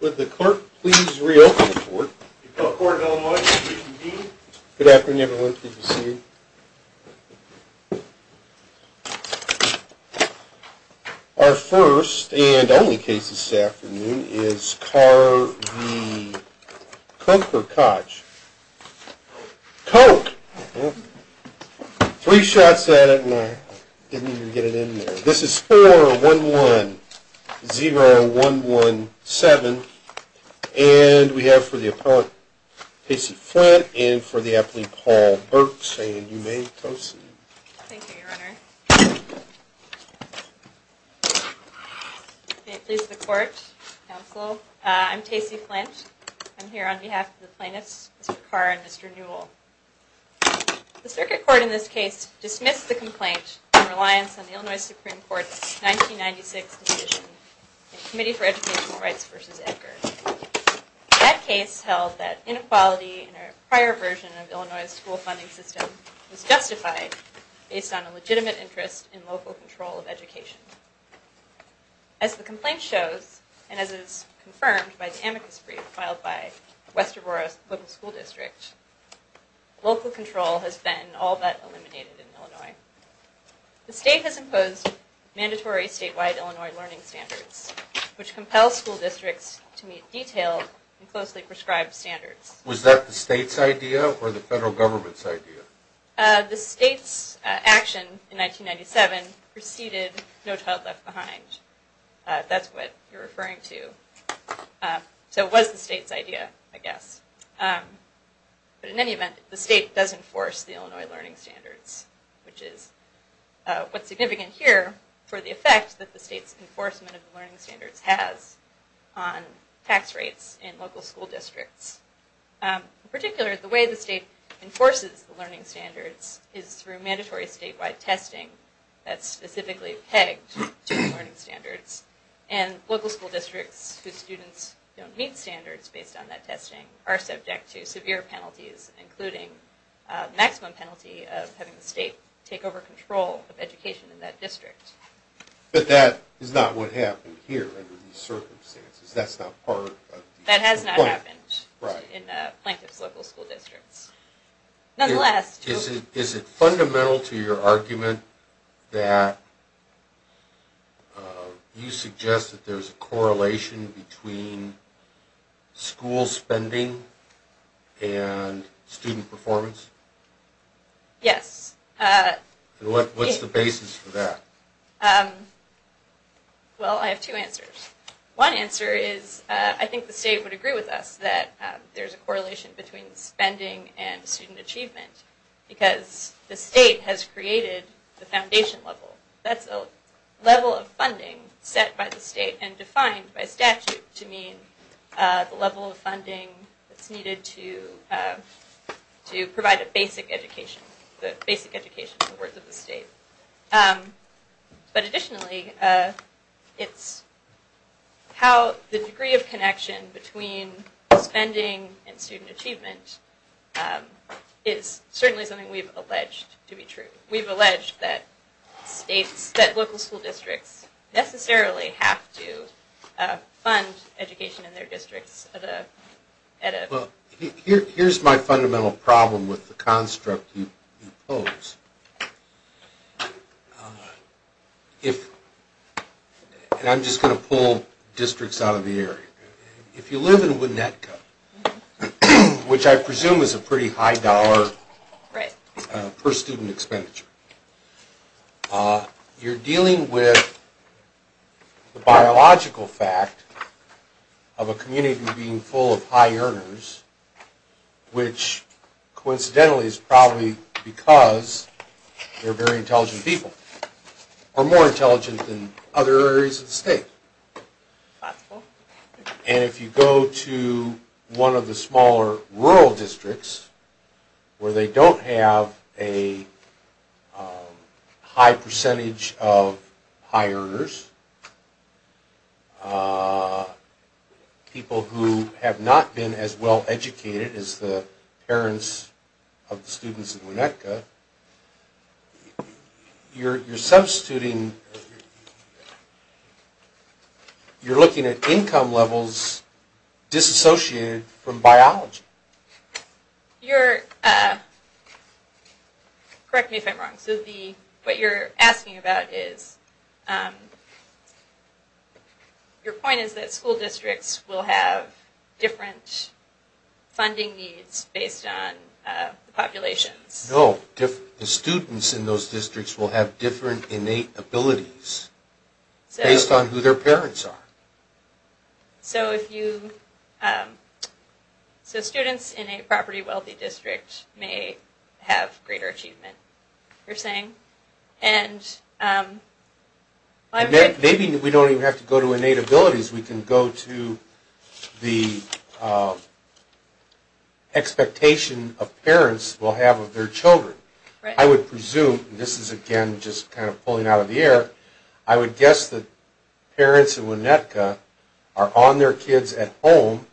Would the court please re-open the court? Court of Illinois. Good afternoon everyone. Pleased to see you. Our first and only case this afternoon is Carr v. Koch. Koch! Three shots at it and I didn't even get it in there. This is 4-1-1-0-1-1-7. And we have for the appellate, Tacey Flint, and for the appellate, Paul Burks. And you may toast. Thank you, Your Honor. May it please the court, counsel, I'm Tacey Flint. I'm here on behalf of the plaintiffs, Mr. Carr and Mr. Newell. The circuit court in this case dismissed the complaint in reliance on the Illinois Supreme Court's 1996 decision in Committee for Educational Rights v. Edgar. That case held that inequality in a prior version of Illinois' school funding system was justified based on a legitimate interest in local control of education. As the complaint shows, and as is confirmed by the amicus brief filed by West Aurora's local school district, local control has been all but eliminated in Illinois. The state has imposed mandatory statewide Illinois learning standards, which compels school districts to meet detailed and closely prescribed standards. Was that the state's idea or the federal government's idea? The state's action in 1997 preceded No Child Left Behind. That's what you're referring to. So it was the state's idea, I guess. But in any event, the state does enforce the Illinois learning standards, which is what's significant here for the effect that the state's enforcement of the learning standards has on tax rates in local school districts. In particular, the way the state enforces the learning standards is through mandatory statewide testing that's specifically pegged to the learning standards. And local school districts whose students don't meet standards based on that testing are subject to severe penalties, including a maximum penalty of having the state take over control of education in that district. But that is not what happened here under these circumstances. That's not part of the complaint. That has not happened in Plankton's local school districts. Nonetheless... Is it fundamental to your argument that you suggest that there's a correlation between school spending and student performance? Yes. What's the basis for that? Well, I have two answers. One answer is I think the state would agree with us that there's a correlation between spending and student achievement, because the state has created the foundation level. That's a level of funding set by the state and defined by statute to mean the level of funding that's needed to provide a basic education, the basic education in the words of the state. But additionally, it's how the degree of connection between spending and student achievement is certainly something we've alleged to be true. We've alleged that local school districts necessarily have to fund education in their districts at a... Well, here's my fundamental problem with the construct you pose. I'm just going to pull districts out of the area. If you live in Winnetka, which I presume is a pretty high dollar per student expenditure, you're dealing with the biological fact of a community being full of high earners, which coincidentally is probably because they're very intelligent people, or more intelligent than other areas of the state. And if you go to one of the smaller rural districts, where they don't have a high percentage of high earners, people who have not been as well educated as the parents of the students in Winnetka, you're substituting... You're looking at income levels disassociated from biology. Correct me if I'm wrong. So what you're asking about is... Your point is that school districts will have different funding needs based on populations. No. The students in those districts will have different innate abilities based on who their parents are. So students in a property-wealthy district may have greater achievement, you're saying? Maybe we don't even have to go to innate abilities. We can go to the expectation of parents will have of their children. I would presume, and this is again just kind of pulling out of the air, I would guess that parents in Winnetka are on their kids at home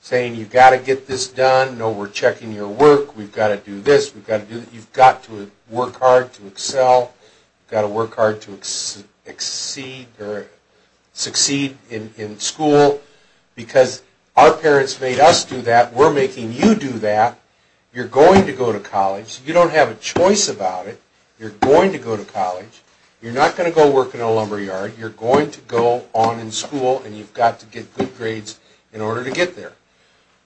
saying, you've got to get this done, no, we're checking your work, we've got to do this, you've got to work hard to excel, you've got to work hard to succeed in school, because our parents made us do that, we're making you do that, you're going to go to college, you don't have a choice about it, you're going to go to college, you're not going to go work in a lumberyard, you're going to go on in school and you've got to get good grades in order to get there.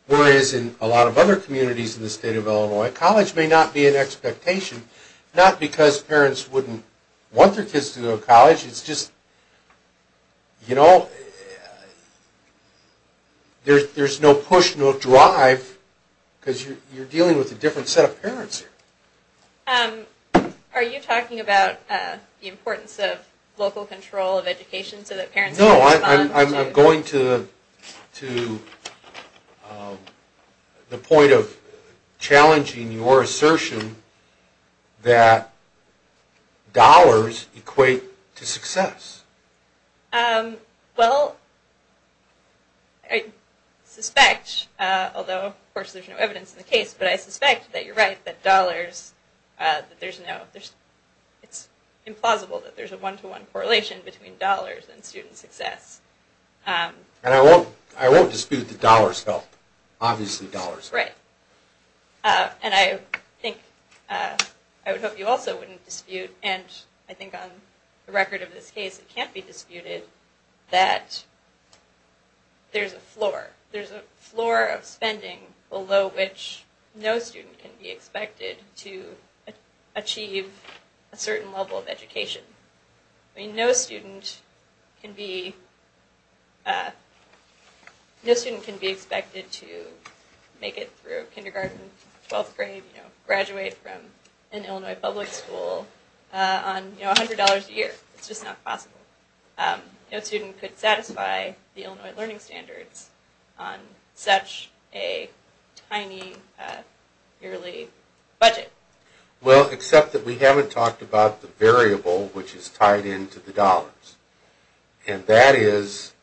Whereas in a lot of other communities in the state of Illinois, college may not be an expectation, not because parents wouldn't want their kids to go to college, it's just, you know, there's no push, no drive, because you're dealing with a different set of parents here. Are you talking about the importance of local control of education so that parents... No, I'm going to the point of challenging your assertion that dollars equate to success. Well, I suspect, although of course there's no evidence in the case, but I suspect that you're right, that dollars, that there's no, it's implausible that there's a one-to-one correlation between dollars and student success. And I won't dispute that dollars help, obviously dollars help. Right, and I think, I would hope you also wouldn't dispute, and I think on the record of this case it can't be disputed, that there's a floor, there's a floor of spending below which no student can be expected to achieve a certain level of education. I mean, no student can be, no student can be expected to make it through kindergarten, 12th grade, you know, graduate from an Illinois public school on, you know, $100 a year. It's just not possible. No student could satisfy the Illinois learning standards on such a tiny yearly budget. Well, except that we haven't talked about the variable which is tied into the dollars. And that is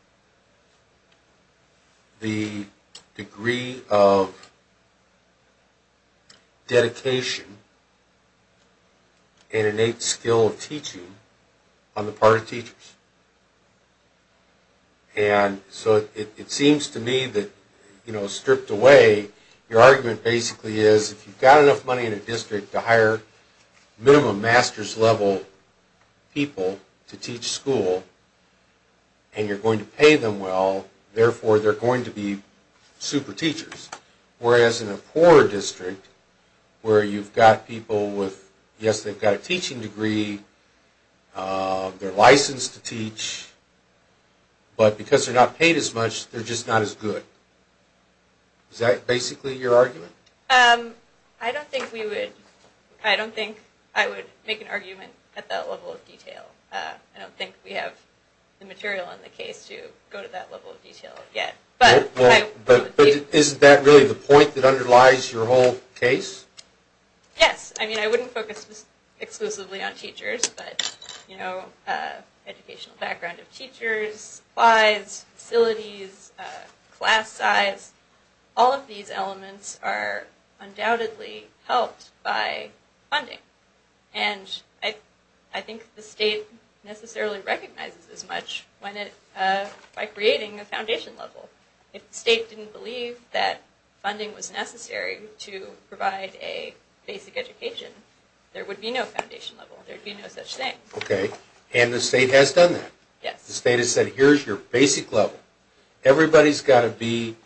the degree of dedication and innate skill of teaching on the part of teachers. And so it seems to me that, you know, stripped away, your argument basically is if you've got enough money in a district to hire minimum master's level people to teach school, and you're going to pay them well, therefore they're going to be super teachers. Whereas in a poorer district, where you've got people with, yes they've got a teaching degree, they're licensed to teach, but because they're not paid as much, they're just not as good. Is that basically your argument? I don't think we would, I don't think I would make an argument at that level of detail. I don't think we have the material on the case to go to that level of detail yet. But isn't that really the point that underlies your whole case? Yes, I mean I wouldn't focus exclusively on teachers, but, you know, educational background of teachers, lives, facilities, class size, all of these elements are undoubtedly helped by funding. And I think the state necessarily recognizes this much by creating a foundation level. If the state didn't believe that funding was necessary to provide a basic education, there would be no foundation level, there would be no such thing. Okay, and the state has done that? Yes. The state has said, here's your basic level. Everybody's got to be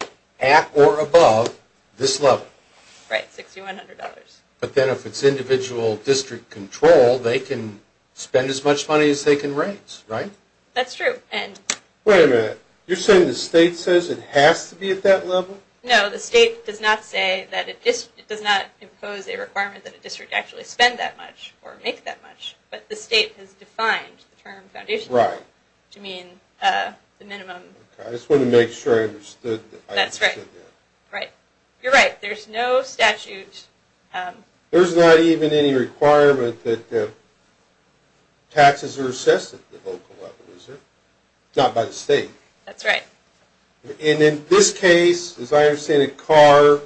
at or above this level. Right, $6,100. But then if it's individual district control, they can spend as much money as they can raise, right? That's true. Wait a minute, you're saying the state says it has to be at that level? No, the state does not say that it does not impose a requirement that a district actually spend that much or make that much, but the state has defined the term foundation level to mean the minimum. I just wanted to make sure I understood that. That's right. You're right, there's no statute. There's not even any requirement that taxes are assessed at the local level, is there? Not by the state. That's right. And in this case, as I understand it, a car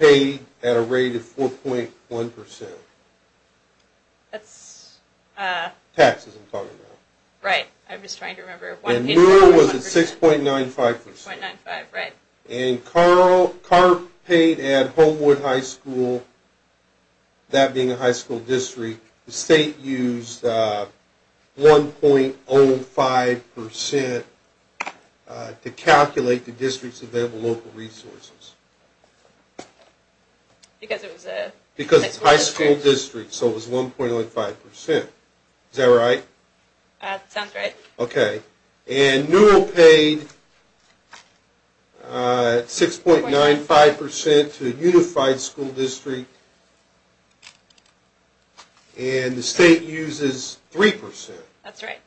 paid at a rate of 4.1%. That's... Taxes, I'm talking about. Right, I'm just trying to remember. And rural was at 6.95%. 6.95%, right. And car paid at Homewood High School, that being a high school district, the state used 1.05% to calculate the district's available local resources. Because it was a high school district. So it was 1.05%. Is that right? That sounds right. Okay. And rural paid 6.95% to a unified school district, and the state uses 3%. That's right.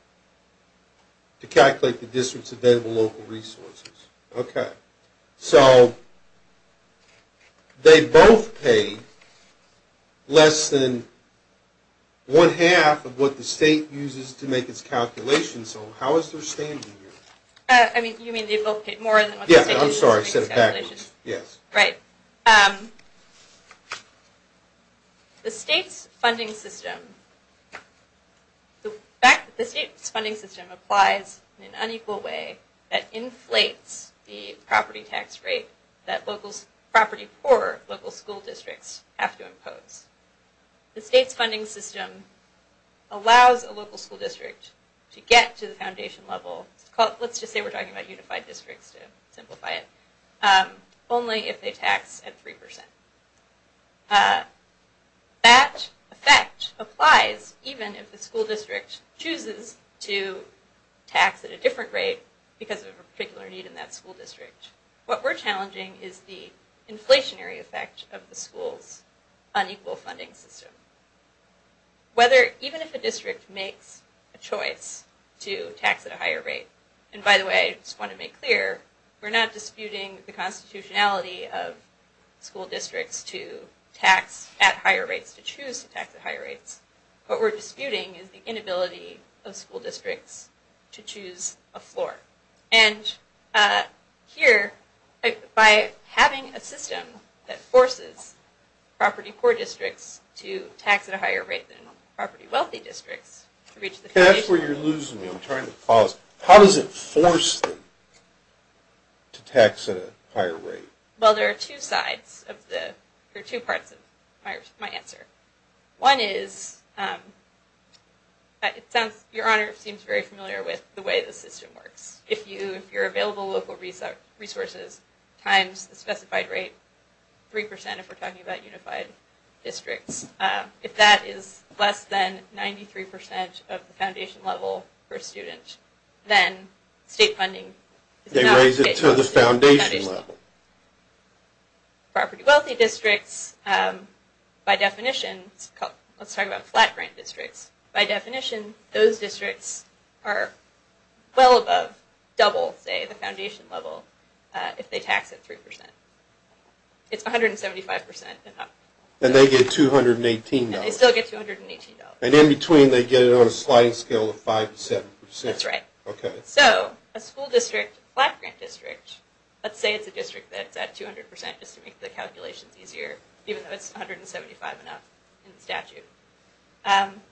To calculate the district's available local resources. Okay. So they both pay less than one-half of what the state uses to make its calculations. So how is there standing here? I mean, you mean they both pay more than what the state uses to make its calculations? Yeah, I'm sorry. I said it backwards. Yes. Right. The state's funding system, the fact that the state's funding system applies in an unequal way that inflates the property tax rate that property-poor local school districts have to impose. The state's funding system allows a local school district to get to the foundation level, let's just say we're talking about unified districts to simplify it, only if they tax at 3%. That effect applies even if the school district chooses to tax at a different rate because of a particular need in that school district. What we're challenging is the inflationary effect of the school's unequal funding system. Whether, even if a district makes a choice to tax at a higher rate, and by the way, I just want to make clear, we're not disputing the constitutionality of school districts to tax at higher rates, to choose to tax at higher rates. What we're disputing is the inability of school districts to choose a floor. And here, by having a system that forces property-poor districts to tax at a higher rate than property-wealthy districts to reach the foundation... That's where you're losing me. I'm trying to pause. How does it force them to tax at a higher rate? Well, there are two parts of my answer. One is, Your Honor seems very familiar with the way the system works. If you're available local resources times the specified rate, 3% if we're talking about unified districts, if that is less than 93% of the foundation level for a student, then state funding is not... They raise it to the foundation level. Property-wealthy districts, by definition, let's talk about flat-grant districts, by definition, those districts are well above, double, say, the foundation level if they tax at 3%. It's 175% and up. Then they get $218. And they still get $218. And in between, they get it on a sliding scale of 5% to 7%. That's right. Okay. So, a school district flat-grant district, let's say it's a district that's at 200% just to make the calculations easier, even though it's 175% and up in the statute.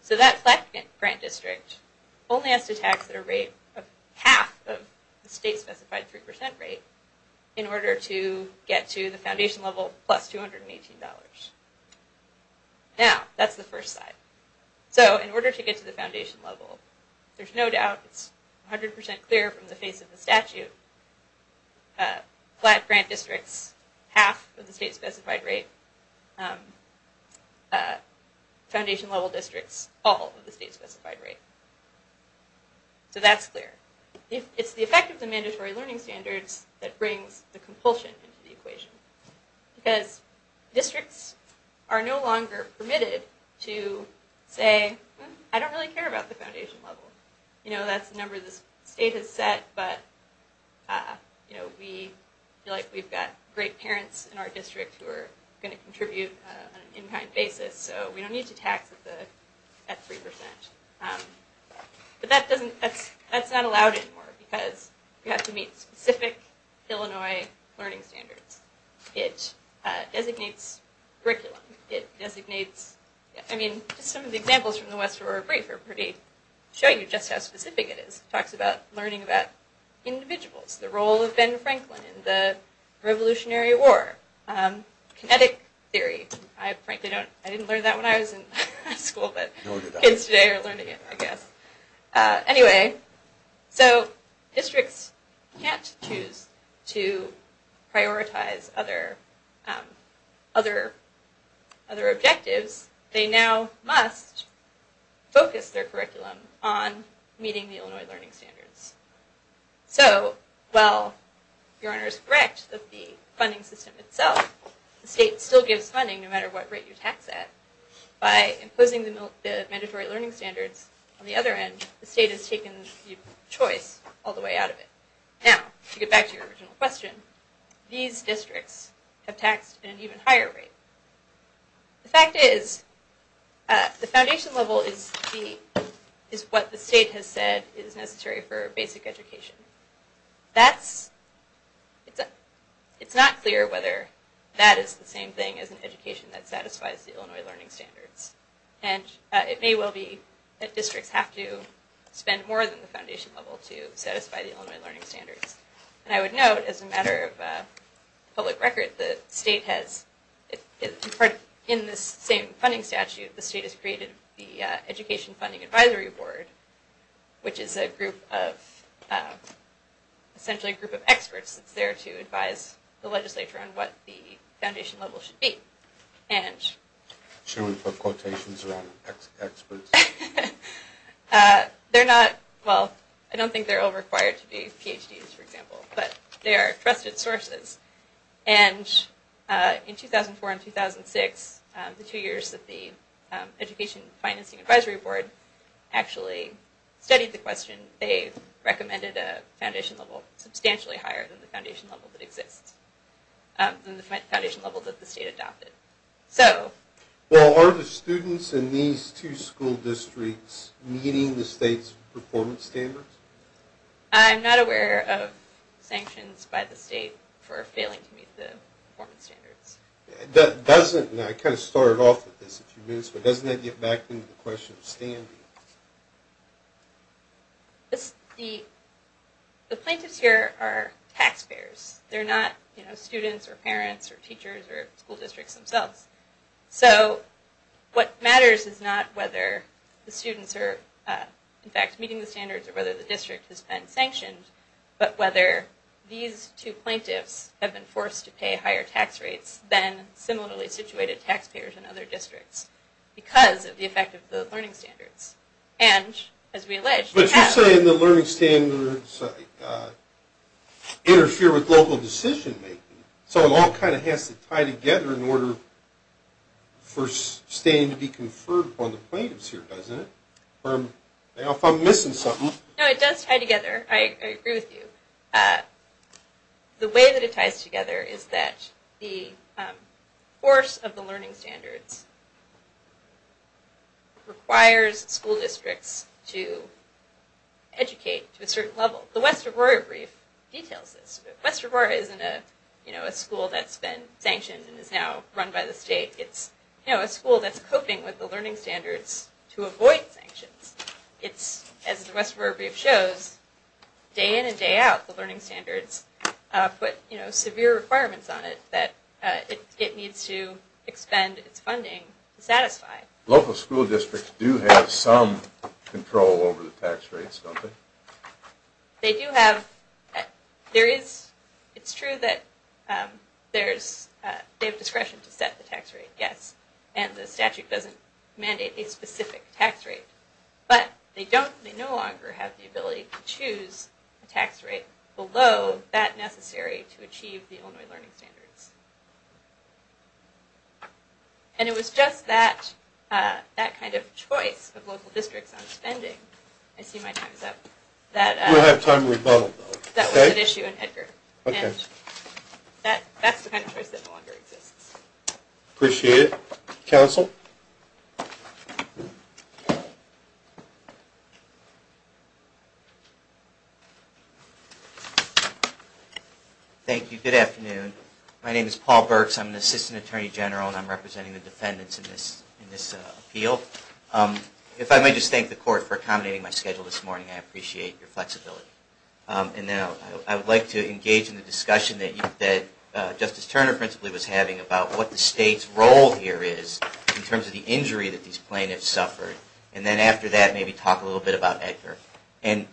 So that flat-grant district only has to tax at a rate of half of the state-specified 3% rate in order to get to the foundation level plus $218. Now, that's the first side. So, in order to get to the foundation level, there's no doubt, it's 100% clear from the face of the statute, flat-grant districts, half of the state-specified rate, foundation-level districts, all of the state-specified rate. So that's clear. It's the effect of the mandatory learning standards that brings the compulsion into the equation. Because districts are no longer permitted to say, I don't really care about the foundation level. You know, that's the number the state has set. But, you know, we feel like we've got great parents in our district who are going to contribute on an in-kind basis. So we don't need to tax at 3%. But that's not allowed anymore because we have to meet specific Illinois learning standards. It designates curriculum. It designates, I mean, some of the examples from the West River Brief are pretty, show you just how specific it is. It talks about learning about individuals, the role of Ben Franklin in the Revolutionary War, kinetic theory. I frankly don't, I didn't learn that when I was in high school, but kids today are learning it, I guess. Anyway, so districts can't choose to prioritize other objectives. They now must focus their curriculum on meeting the Illinois learning standards. So while your Honor is correct that the funding system itself, the state still gives funding no matter what rate you tax at, by imposing the mandatory learning standards on the other end, the state has taken the choice all the way out of it. Now, to get back to your original question, these districts have taxed at an even higher rate. The fact is, the foundation level is what the state has said is necessary for basic education. That's, it's not clear whether that is the same thing as an education that satisfies the Illinois learning standards. And it may well be that districts have to spend more than the foundation level to satisfy the Illinois learning standards. And I would note, as a matter of public record, the state has, in this same funding statute, the state has created the Education Funding Advisory Board, which is a group of, essentially a group of experts that's there to advise the legislature on what the foundation level should be. And... Should we put quotations around experts? They're not, well, I don't think they're all required to be PhDs, for example, but they are trusted sources. And in 2004 and 2006, the two years that the Education Financing Advisory Board actually studied the question, they recommended a foundation level substantially higher than the foundation level that exists, than the foundation level that the state adopted. So... Well, are the students in these two school districts meeting the state's performance standards? I'm not aware of sanctions by the state for failing to meet the performance standards. That doesn't, and I kind of started off with this a few minutes ago, but doesn't that get back into the question of standing? The plaintiffs here are taxpayers. They're not, you know, students or parents or teachers or school districts themselves. So, what matters is not whether the students are, in fact, meeting the standards or whether the district has been sanctioned, but whether these two plaintiffs have been forced to pay higher tax rates than similarly situated taxpayers in other districts because of the effect of the learning standards. And, as we allege... But you're saying the learning standards interfere with local decision-making, so it all kind of has to tie together in order for standing to be conferred upon the plaintiffs here, doesn't it? Or if I'm missing something... No, it does tie together. I agree with you. The way that it ties together is that the force of the learning standards requires school districts to educate to a certain level. The West Regoria brief details this. West Regoria isn't a school that's been sanctioned and is now run by the state. It's a school that's coping with the learning standards to avoid sanctions. As the West Regoria brief shows, day in and day out, the learning standards put severe requirements on it that it needs to expend its funding to satisfy. Local school districts do have some control over the tax rates, don't they? It's true that they have discretion to set the tax rate, yes. And the statute doesn't mandate a specific tax rate. But they no longer have the ability to choose a tax rate below that necessary to achieve the Illinois learning standards. And it was just that kind of choice of local districts on spending... I see my time is up. We'll have time to rebuttal, though. That was an issue in Edgar. That's the kind of choice that no longer exists. Appreciate it. Counsel? Thank you. Good afternoon. My name is Paul Burks. I'm an assistant attorney general, and I'm representing the defendants in this appeal. If I may just thank the court for accommodating my schedule this morning, I appreciate your flexibility. And then I would like to engage in the discussion that Justice Turner principally was having about what the state's role here is in terms of the injury that these plaintiffs suffered. And then after that, maybe talk a little bit about Edgar. And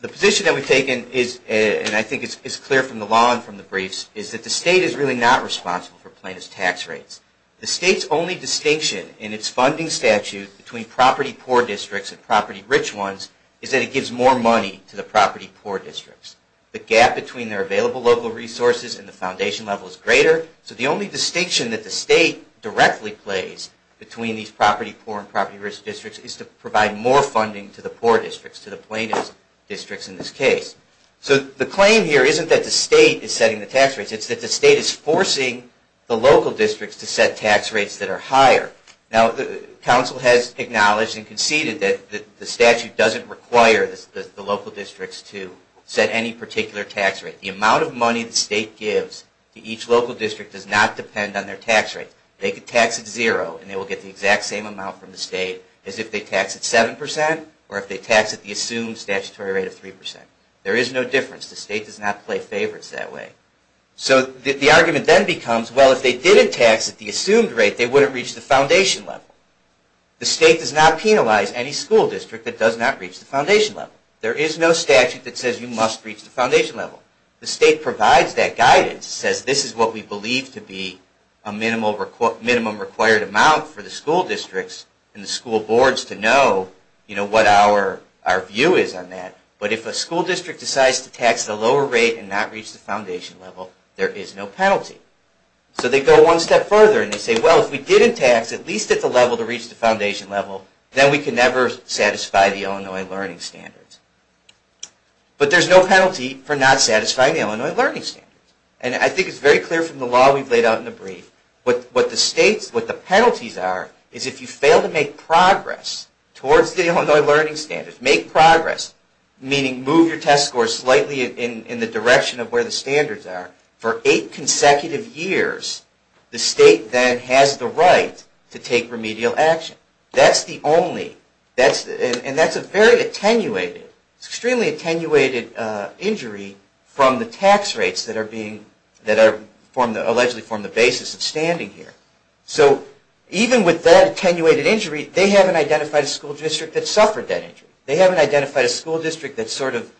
the position that we've taken, and I think it's clear from the law and from the briefs, is that the state is really not responsible for plaintiffs' tax rates. The state's only distinction in its funding statute between property-poor districts and property-rich ones is that it gives more money to the property-poor districts. The gap between their available local resources and the foundation level is greater. So the only distinction that the state directly plays between these property-poor and property-rich districts is to provide more funding to the poor districts, to the plaintiffs' districts in this case. So the claim here isn't that the state is setting the tax rates. It's that the state is forcing the local districts to set tax rates that are higher. Now, the council has acknowledged and conceded that the statute doesn't require the local districts to set any particular tax rate. The amount of money the state gives to each local district does not depend on their tax rate. They could tax at zero, and they will get the exact same amount from the state as if they tax at 7% or if they tax at the assumed statutory rate of 3%. There is no difference. The state does not play favorites that way. So the argument then becomes, well, if they didn't tax at the assumed rate, they wouldn't reach the foundation level. The state does not penalize any school district that does not reach the foundation level. There is no statute that says you must reach the foundation level. The state provides that guidance. It says this is what we believe to be a minimum required amount for the school districts and the school boards to know what our view is on that. But if a school district decides to tax at a lower rate and not reach the foundation level, there is no penalty. So they go one step further and they say, well, if we didn't tax at least at the level to reach the foundation level, then we can never satisfy the Illinois Learning Standards. But there is no penalty for not satisfying the Illinois Learning Standards. And I think it is very clear from the law we have laid out in the brief. What the penalties are is if you fail to make progress towards the Illinois Learning Standards, make progress, meaning move your test score slightly in the direction of where the standards are, for eight consecutive years, the state then has the right to take remedial action. That's the only, and that's a very attenuated, extremely attenuated injury from the tax rates that are allegedly form the basis of standing here. So even with that attenuated injury, they haven't identified a school district that suffered that injury. They haven't identified a school district that's sort of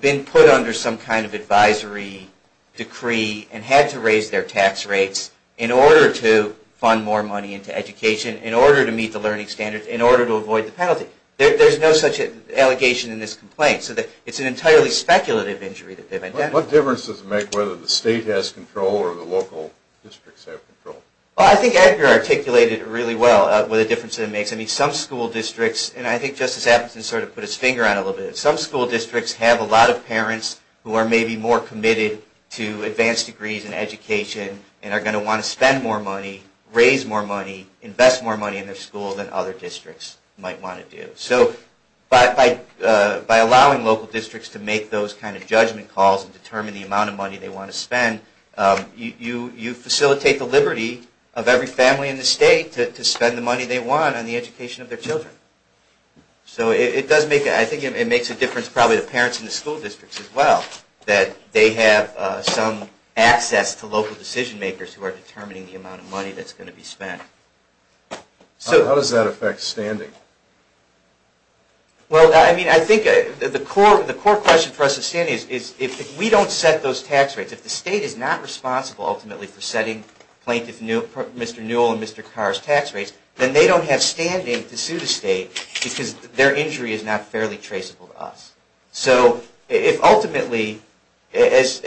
been put under some kind of advisory decree and had to raise their tax rates in order to fund more money into education, in order to meet the learning standards, in order to avoid the penalty. There's no such allegation in this complaint. It's an entirely speculative injury that they've identified. What difference does it make whether the state has control or the local districts have control? Well, I think Edgar articulated really well what a difference it makes. I mean, some school districts, and I think Justice Appleton sort of put his finger on it a little bit, some school districts have a lot of parents who are maybe more committed to advanced degrees in education and are going to want to spend more money, raise more money, invest more money in their school than other districts might want to do. So by allowing local districts to make those kind of judgment calls and determine the amount of money they want to spend, you facilitate the liberty of every family in the state to spend the money they want on the education of their children. So I think it makes a difference probably to parents in the school districts as well that they have some access to local decision makers who are determining the amount of money that's going to be spent. How does that affect standing? Well, I mean, I think the core question for us at standing is if we don't set those tax rates, if the state is not responsible ultimately for setting plaintiff Mr. Newell and Mr. Carr's tax rates, then they don't have standing to sue the state because their injury is not fairly traceable to us. So if ultimately, as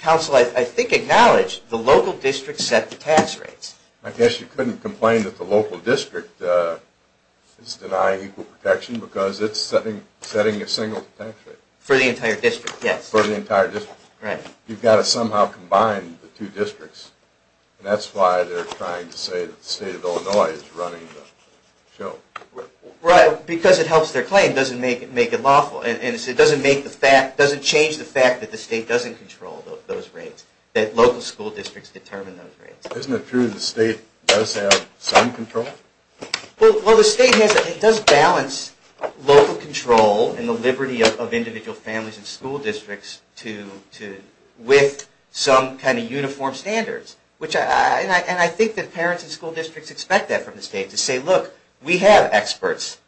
counsel I think acknowledged, the local districts set the tax rates. I guess you couldn't complain that the local district is denying equal protection because it's setting a single tax rate. For the entire district, yes. For the entire district. Right. You've got to somehow combine the two districts. And that's why they're trying to say that the state of Illinois is running the show. Right, because it helps their claim. It doesn't make it lawful. And it doesn't change the fact that the state doesn't control those rates, that local school districts determine those rates. Isn't it true the state does have some control? Well, the state does balance local control and the liberty of individual families and school districts with some kind of uniform standards. And I think that parents and school districts expect that from the state to say, look, we have experts,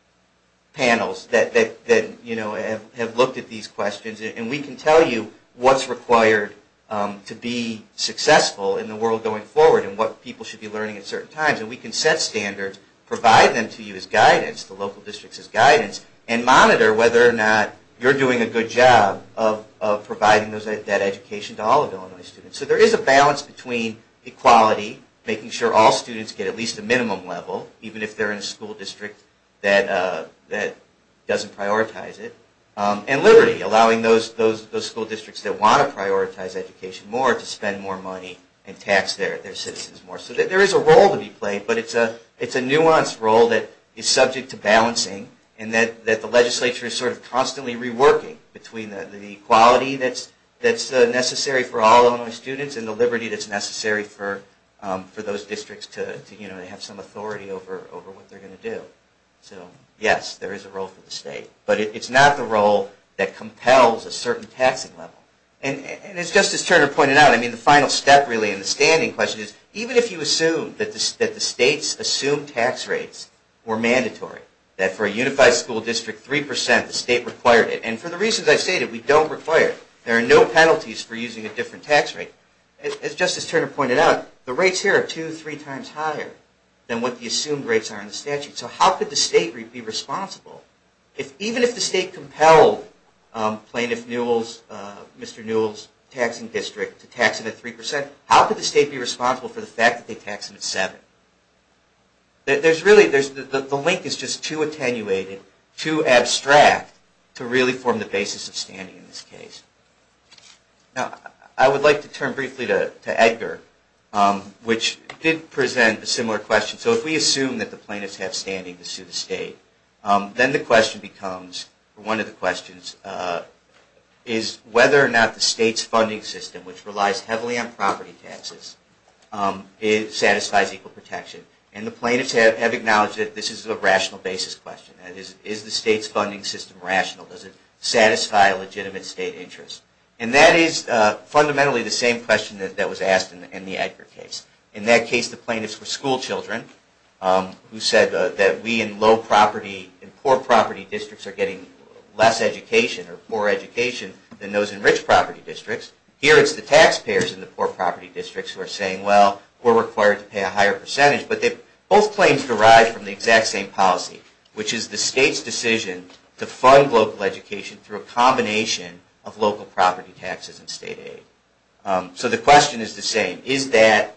panels that have looked at these questions and we can tell you what's required to be successful in the world going forward and what people should be learning at certain times. And we can set standards, provide them to you as guidance, the local districts as guidance, and monitor whether or not you're doing a good job of providing that education to all of Illinois students. So there is a balance between equality, making sure all students get at least a minimum level, even if they're in a school district that doesn't prioritize it, and liberty, allowing those school districts that want to prioritize education more to spend more money and tax their citizens more. So there is a role to be played, but it's a nuanced role that is subject to balancing and that the legislature is sort of constantly reworking between the equality that's necessary for all Illinois students and the liberty that's necessary for those districts to have some authority over what they're going to do. So, yes, there is a role for the state. But it's not the role that compels a certain taxing level. And it's just as Turner pointed out, I mean, the final step really in the standing question is even if you assume that the states assume tax rates were mandatory, that for a unified school district, 3%, the state required it. And for the reasons I stated, we don't require it. There are no penalties for using a different tax rate. As Justice Turner pointed out, the rates here are two, three times higher than what the assumed rates are in the statute. So how could the state be responsible? Even if the state compelled Plaintiff Newell's, Mr. Newell's Taxing District, to tax him at 3%, how could the state be responsible for the fact that they taxed him at 7? There's really, the link is just too attenuated, too abstract, to really form the basis of standing in this case. Now, I would like to turn briefly to Edgar, which did present a similar question. So if we assume that the plaintiffs have standing to sue the state, then the question becomes, one of the questions, is whether or not the state's funding system, which relies heavily on property taxes, satisfies equal protection. And the plaintiffs have acknowledged that this is a rational basis question. That is, is the state's funding system rational? Does it satisfy a legitimate state interest? And that is fundamentally the same question that was asked in the Edgar case. In that case, the plaintiffs were schoolchildren, who said that we in low property, in poor property districts, are getting less education, or poor education, than those in rich property districts. Here it's the taxpayers in the poor property districts who are saying, well, we're required to pay a higher percentage. But both claims derive from the exact same policy, which is the state's decision to fund local education through a combination of local property taxes and state aid. So the question is the same. Is that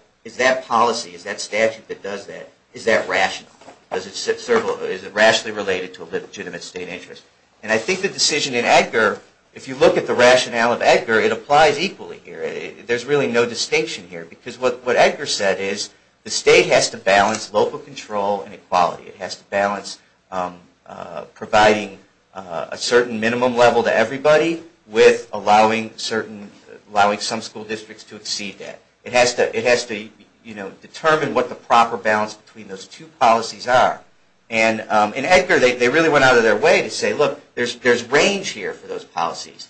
policy, is that statute that does that, is that rational? Is it rationally related to a legitimate state interest? And I think the decision in Edgar, if you look at the rationale of Edgar, it applies equally here. There's really no distinction here. Because what Edgar said is the state has to balance local control and equality. It has to balance providing a certain minimum level to everybody with allowing some school districts to exceed that. It has to determine what the proper balance between those two policies are. And in Edgar, they really went out of their way to say, look, there's range here for those policies.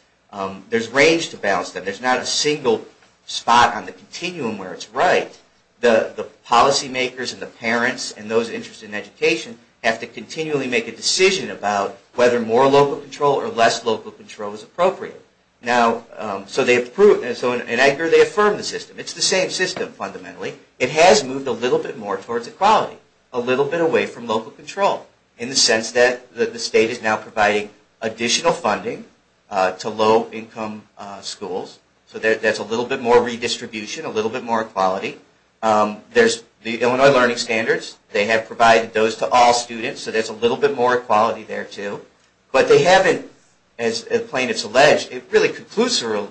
There's range to balance them. There's not a single spot on the continuum where it's right. The policy makers and the parents and those interested in education have to continually make a decision about whether more local control or less local control is appropriate. So in Edgar, they affirm the system. It's the same system fundamentally. It has moved a little bit more towards equality, a little bit away from local control in the sense that the state is now funding to low-income schools. So there's a little bit more redistribution, a little bit more equality. There's the Illinois Learning Standards. They have provided those to all students. So there's a little bit more equality there, too. But they haven't, as plaintiffs allege, really conclusorily,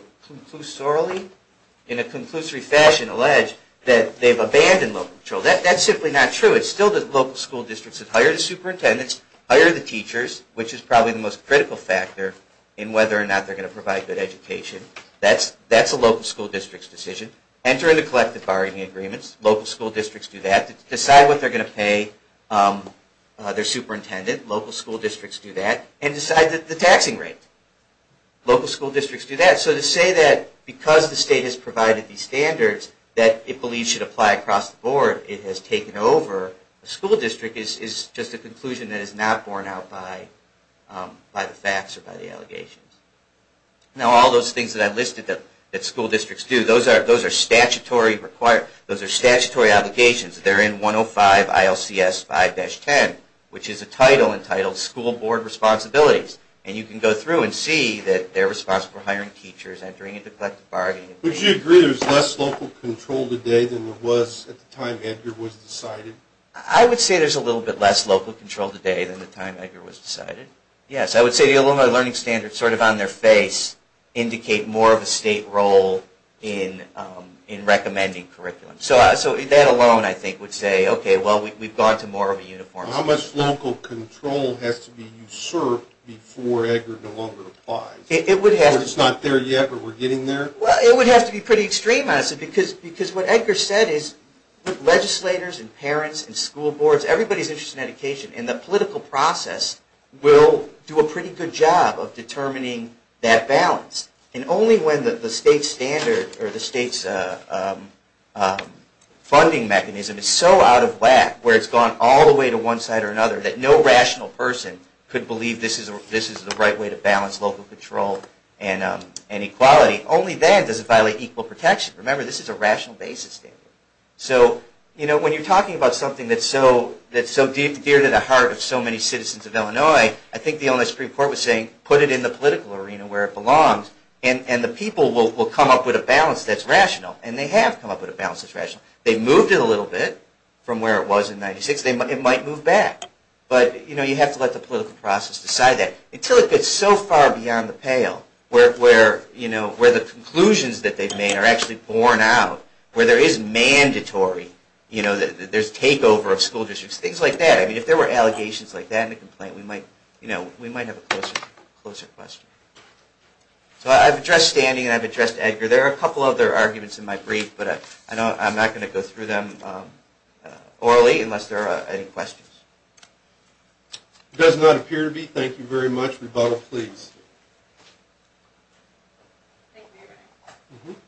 in a conclusory fashion, allege that they've abandoned local control. That's simply not true. It's still the local school districts that hire the superintendents, hire the teachers, which is probably the most critical factor in whether or not they're going to provide good education. That's a local school district's decision. Enter into collective bargaining agreements. Local school districts do that. Decide what they're going to pay their superintendent. Local school districts do that. And decide the taxing rate. Local school districts do that. So to say that because the state has provided these standards that it believes should apply across the board, it has taken over, a school district is just a conclusion that is not borne out by the facts or by the allegations. Now, all those things that I've listed that school districts do, those are statutory obligations. They're in 105 ILCS 5-10, which is a title entitled School Board Responsibilities. And you can go through and see that they're responsible for hiring teachers, entering into collective bargaining agreements. Would you agree there's less local control today than there was at the time Edgar was decided? I would say there's a little bit less local control today than the time Edgar was decided. Yes, I would say the alumni learning standards sort of on their face indicate more of a state role in recommending curriculum. So that alone, I think, would say, okay, well, we've gone to more of a uniform. How much local control has to be usurped before Edgar no longer applies? It's not there yet, but we're getting there? Well, it would have to be pretty extreme, honestly, because what Edgar said is legislators and parents and school boards, everybody's interested in education, and the political process will do a pretty good job of determining that balance. And only when the state's funding mechanism is so out of whack where it's gone all the way to one side or another that no rational person could believe this is the right way to balance local control and equality, only then does it violate equal protection. Remember, this is a rational basis. So when you're talking about something that's so dear to the heart of so many citizens of Illinois, I think the Illinois Supreme Court was saying, put it in the political arena where it belongs, and the people will come up with a balance that's rational. And they have come up with a balance that's rational. They've moved it a little bit from where it was in 1996. It might move back. But you have to let the political process decide that. Until it gets so far beyond the pale where the conclusions that they've made are actually borne out, where there is mandatory, there's takeover of school districts, things like that. If there were allegations like that in the complaint, we might have a closer question. So I've addressed standing and I've addressed Edgar. There are a couple other arguments in my brief, but I'm not going to go through them orally unless there are any questions. It does not appear to be. Thank you very much. Rebuttal, please. Thank you, Mayor Benner.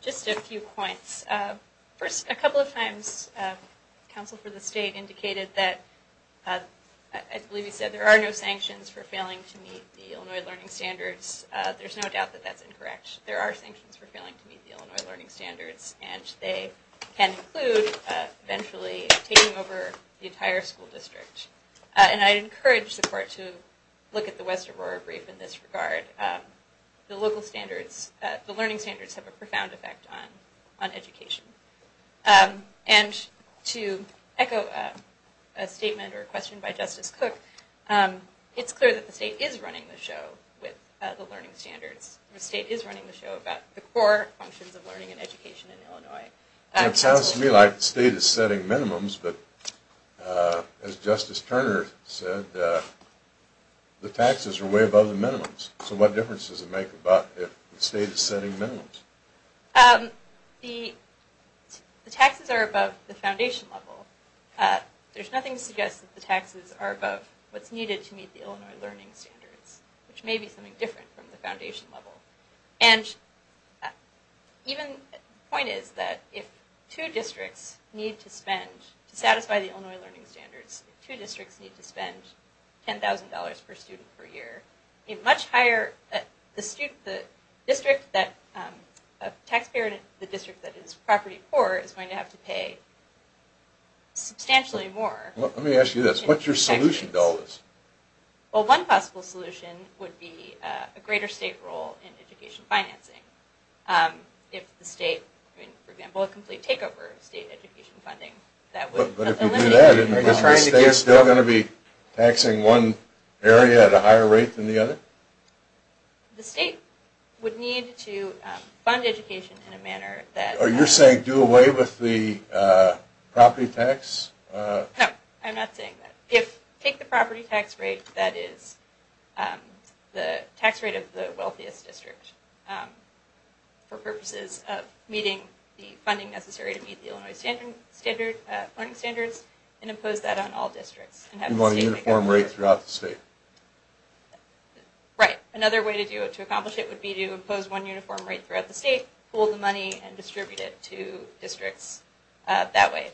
Just a few points. First, a couple of times, counsel for the state indicated that, I believe he said, there are no sanctions for failing to meet the Illinois Learning Standards. There's no doubt that that's incorrect. There are sanctions for failing to meet the Illinois Learning Standards, and they can include eventually taking over the entire school district. And I encourage the court to look at the West Aurora brief in this regard. The local standards, the learning standards, have a profound effect on education. And to echo a statement or question by Justice Cook, it's clear that the state is running the show with the learning standards. The state is running the show about the core functions of learning and education in Illinois. It sounds to me like the state is setting minimums, but as Justice Turner said, the taxes are way above the minimums. So what difference does it make if the state is setting minimums? The taxes are above the foundation level. There's nothing to suggest that the taxes are above what's needed to meet the Illinois Learning Standards, which may be something different from the foundation level. And even, the point is that if two districts need to spend, to satisfy the Illinois Learning Standards, two districts need to spend $10,000 per student per year, a much higher, the district that, a taxpayer in the district that is property poor is going to have to pay substantially more. Let me ask you this, what's your solution to all this? Well, one possible solution would be a greater state role in education financing. If the state, for example, a complete takeover of state education funding, that would eliminate... But if you do that, is the state still going to be taxing one area at a higher rate than the other? The state would need to fund education in a manner that... Are you saying do away with the property tax? No, I'm not saying that. If, take the property tax rate that is the tax rate of the wealthiest district for purposes of meeting the funding necessary to meet the Illinois Learning Standards and impose that on all districts. One uniform rate throughout the state? Right. Another way to accomplish it would be to impose one uniform rate throughout the state, pool the money, and distribute it to districts that way.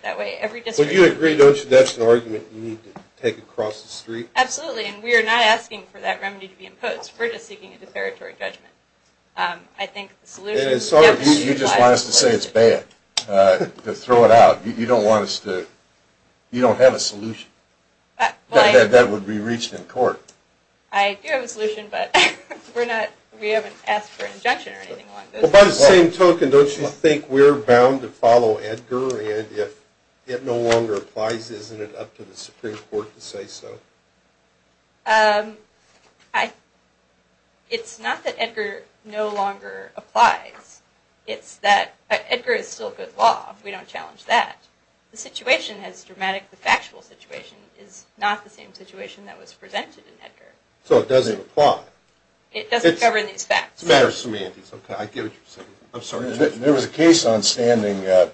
So you agree, don't you, that's an argument you need to take across the street? Absolutely, and we are not asking for that remedy to be imposed. We're just seeking a deperatory judgment. You just want us to say it's bad, to throw it out. You don't want us to... you don't have a solution that would be reached in court. I do have a solution, but we haven't asked for an injunction or anything along those lines. Well, by the same token, don't you think we're bound to follow Edgar, and if it no longer applies, isn't it up to the Supreme Court to say so? It's not that Edgar no longer applies. It's that Edgar is still good law. We don't challenge that. The situation has dramatically... the factual situation is not the same situation that was presented in Edgar. So it doesn't apply. It doesn't govern these facts. It's a matter of semantics. Okay, I get what you're saying. I'm sorry. There was a case on standing. I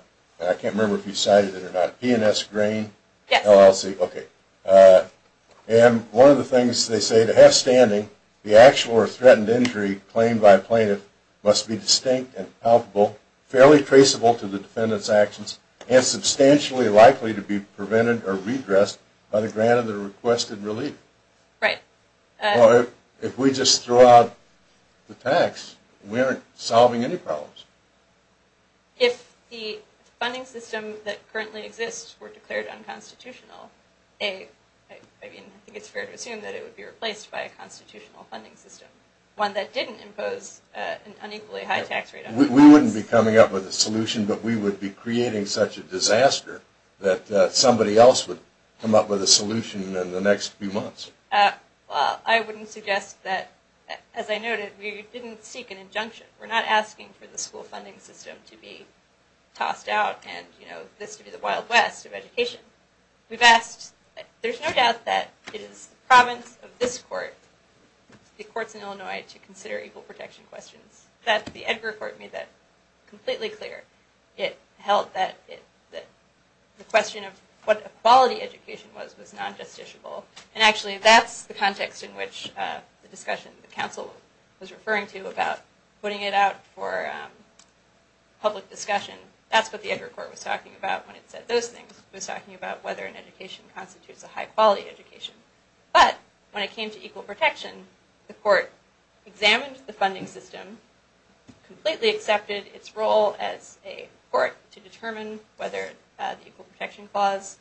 can't remember if you cited it or not. P&S Grain, LLC. And one of the things they say, to have standing, the actual or threatened injury claimed by a plaintiff must be distinct and palpable, fairly traceable to the defendant's actions, and substantially likely to be prevented or redressed by the grant of the requested relief. Right. Well, if we just throw out the tax, we aren't solving any problems. If the funding system that currently exists were declared unconstitutional, I mean, I think it's fair to assume that it would be replaced by a constitutional funding system, one that didn't impose an unequally high tax rate. But we would be creating such a disaster that somebody else would come up with a solution in the next few months. Well, I wouldn't suggest that. As I noted, we didn't seek an injunction. We're not asking for the school funding system to be tossed out and, you know, this to be the Wild West of education. We've asked. There's no doubt that it is the province of this court, the courts in Illinois, to consider equal protection questions. The Edgar Court made that completely clear. It held that the question of what a quality education was was non-justiciable. And actually, that's the context in which the discussion the council was referring to about putting it out for public discussion. That's what the Edgar Court was talking about when it said those things. It was talking about whether an education constitutes a high-quality education. But when it came to equal protection, the court examined the funding system, completely accepted its role as a court to determine whether the equal protection clause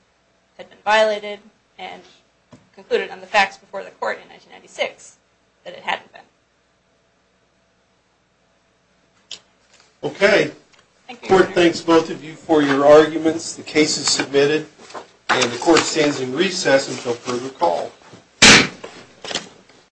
had been violated, and concluded on the facts before the court in 1996 that it hadn't been. Okay. The court thanks both of you for your arguments. The case is submitted. And the court stands in recess until further call.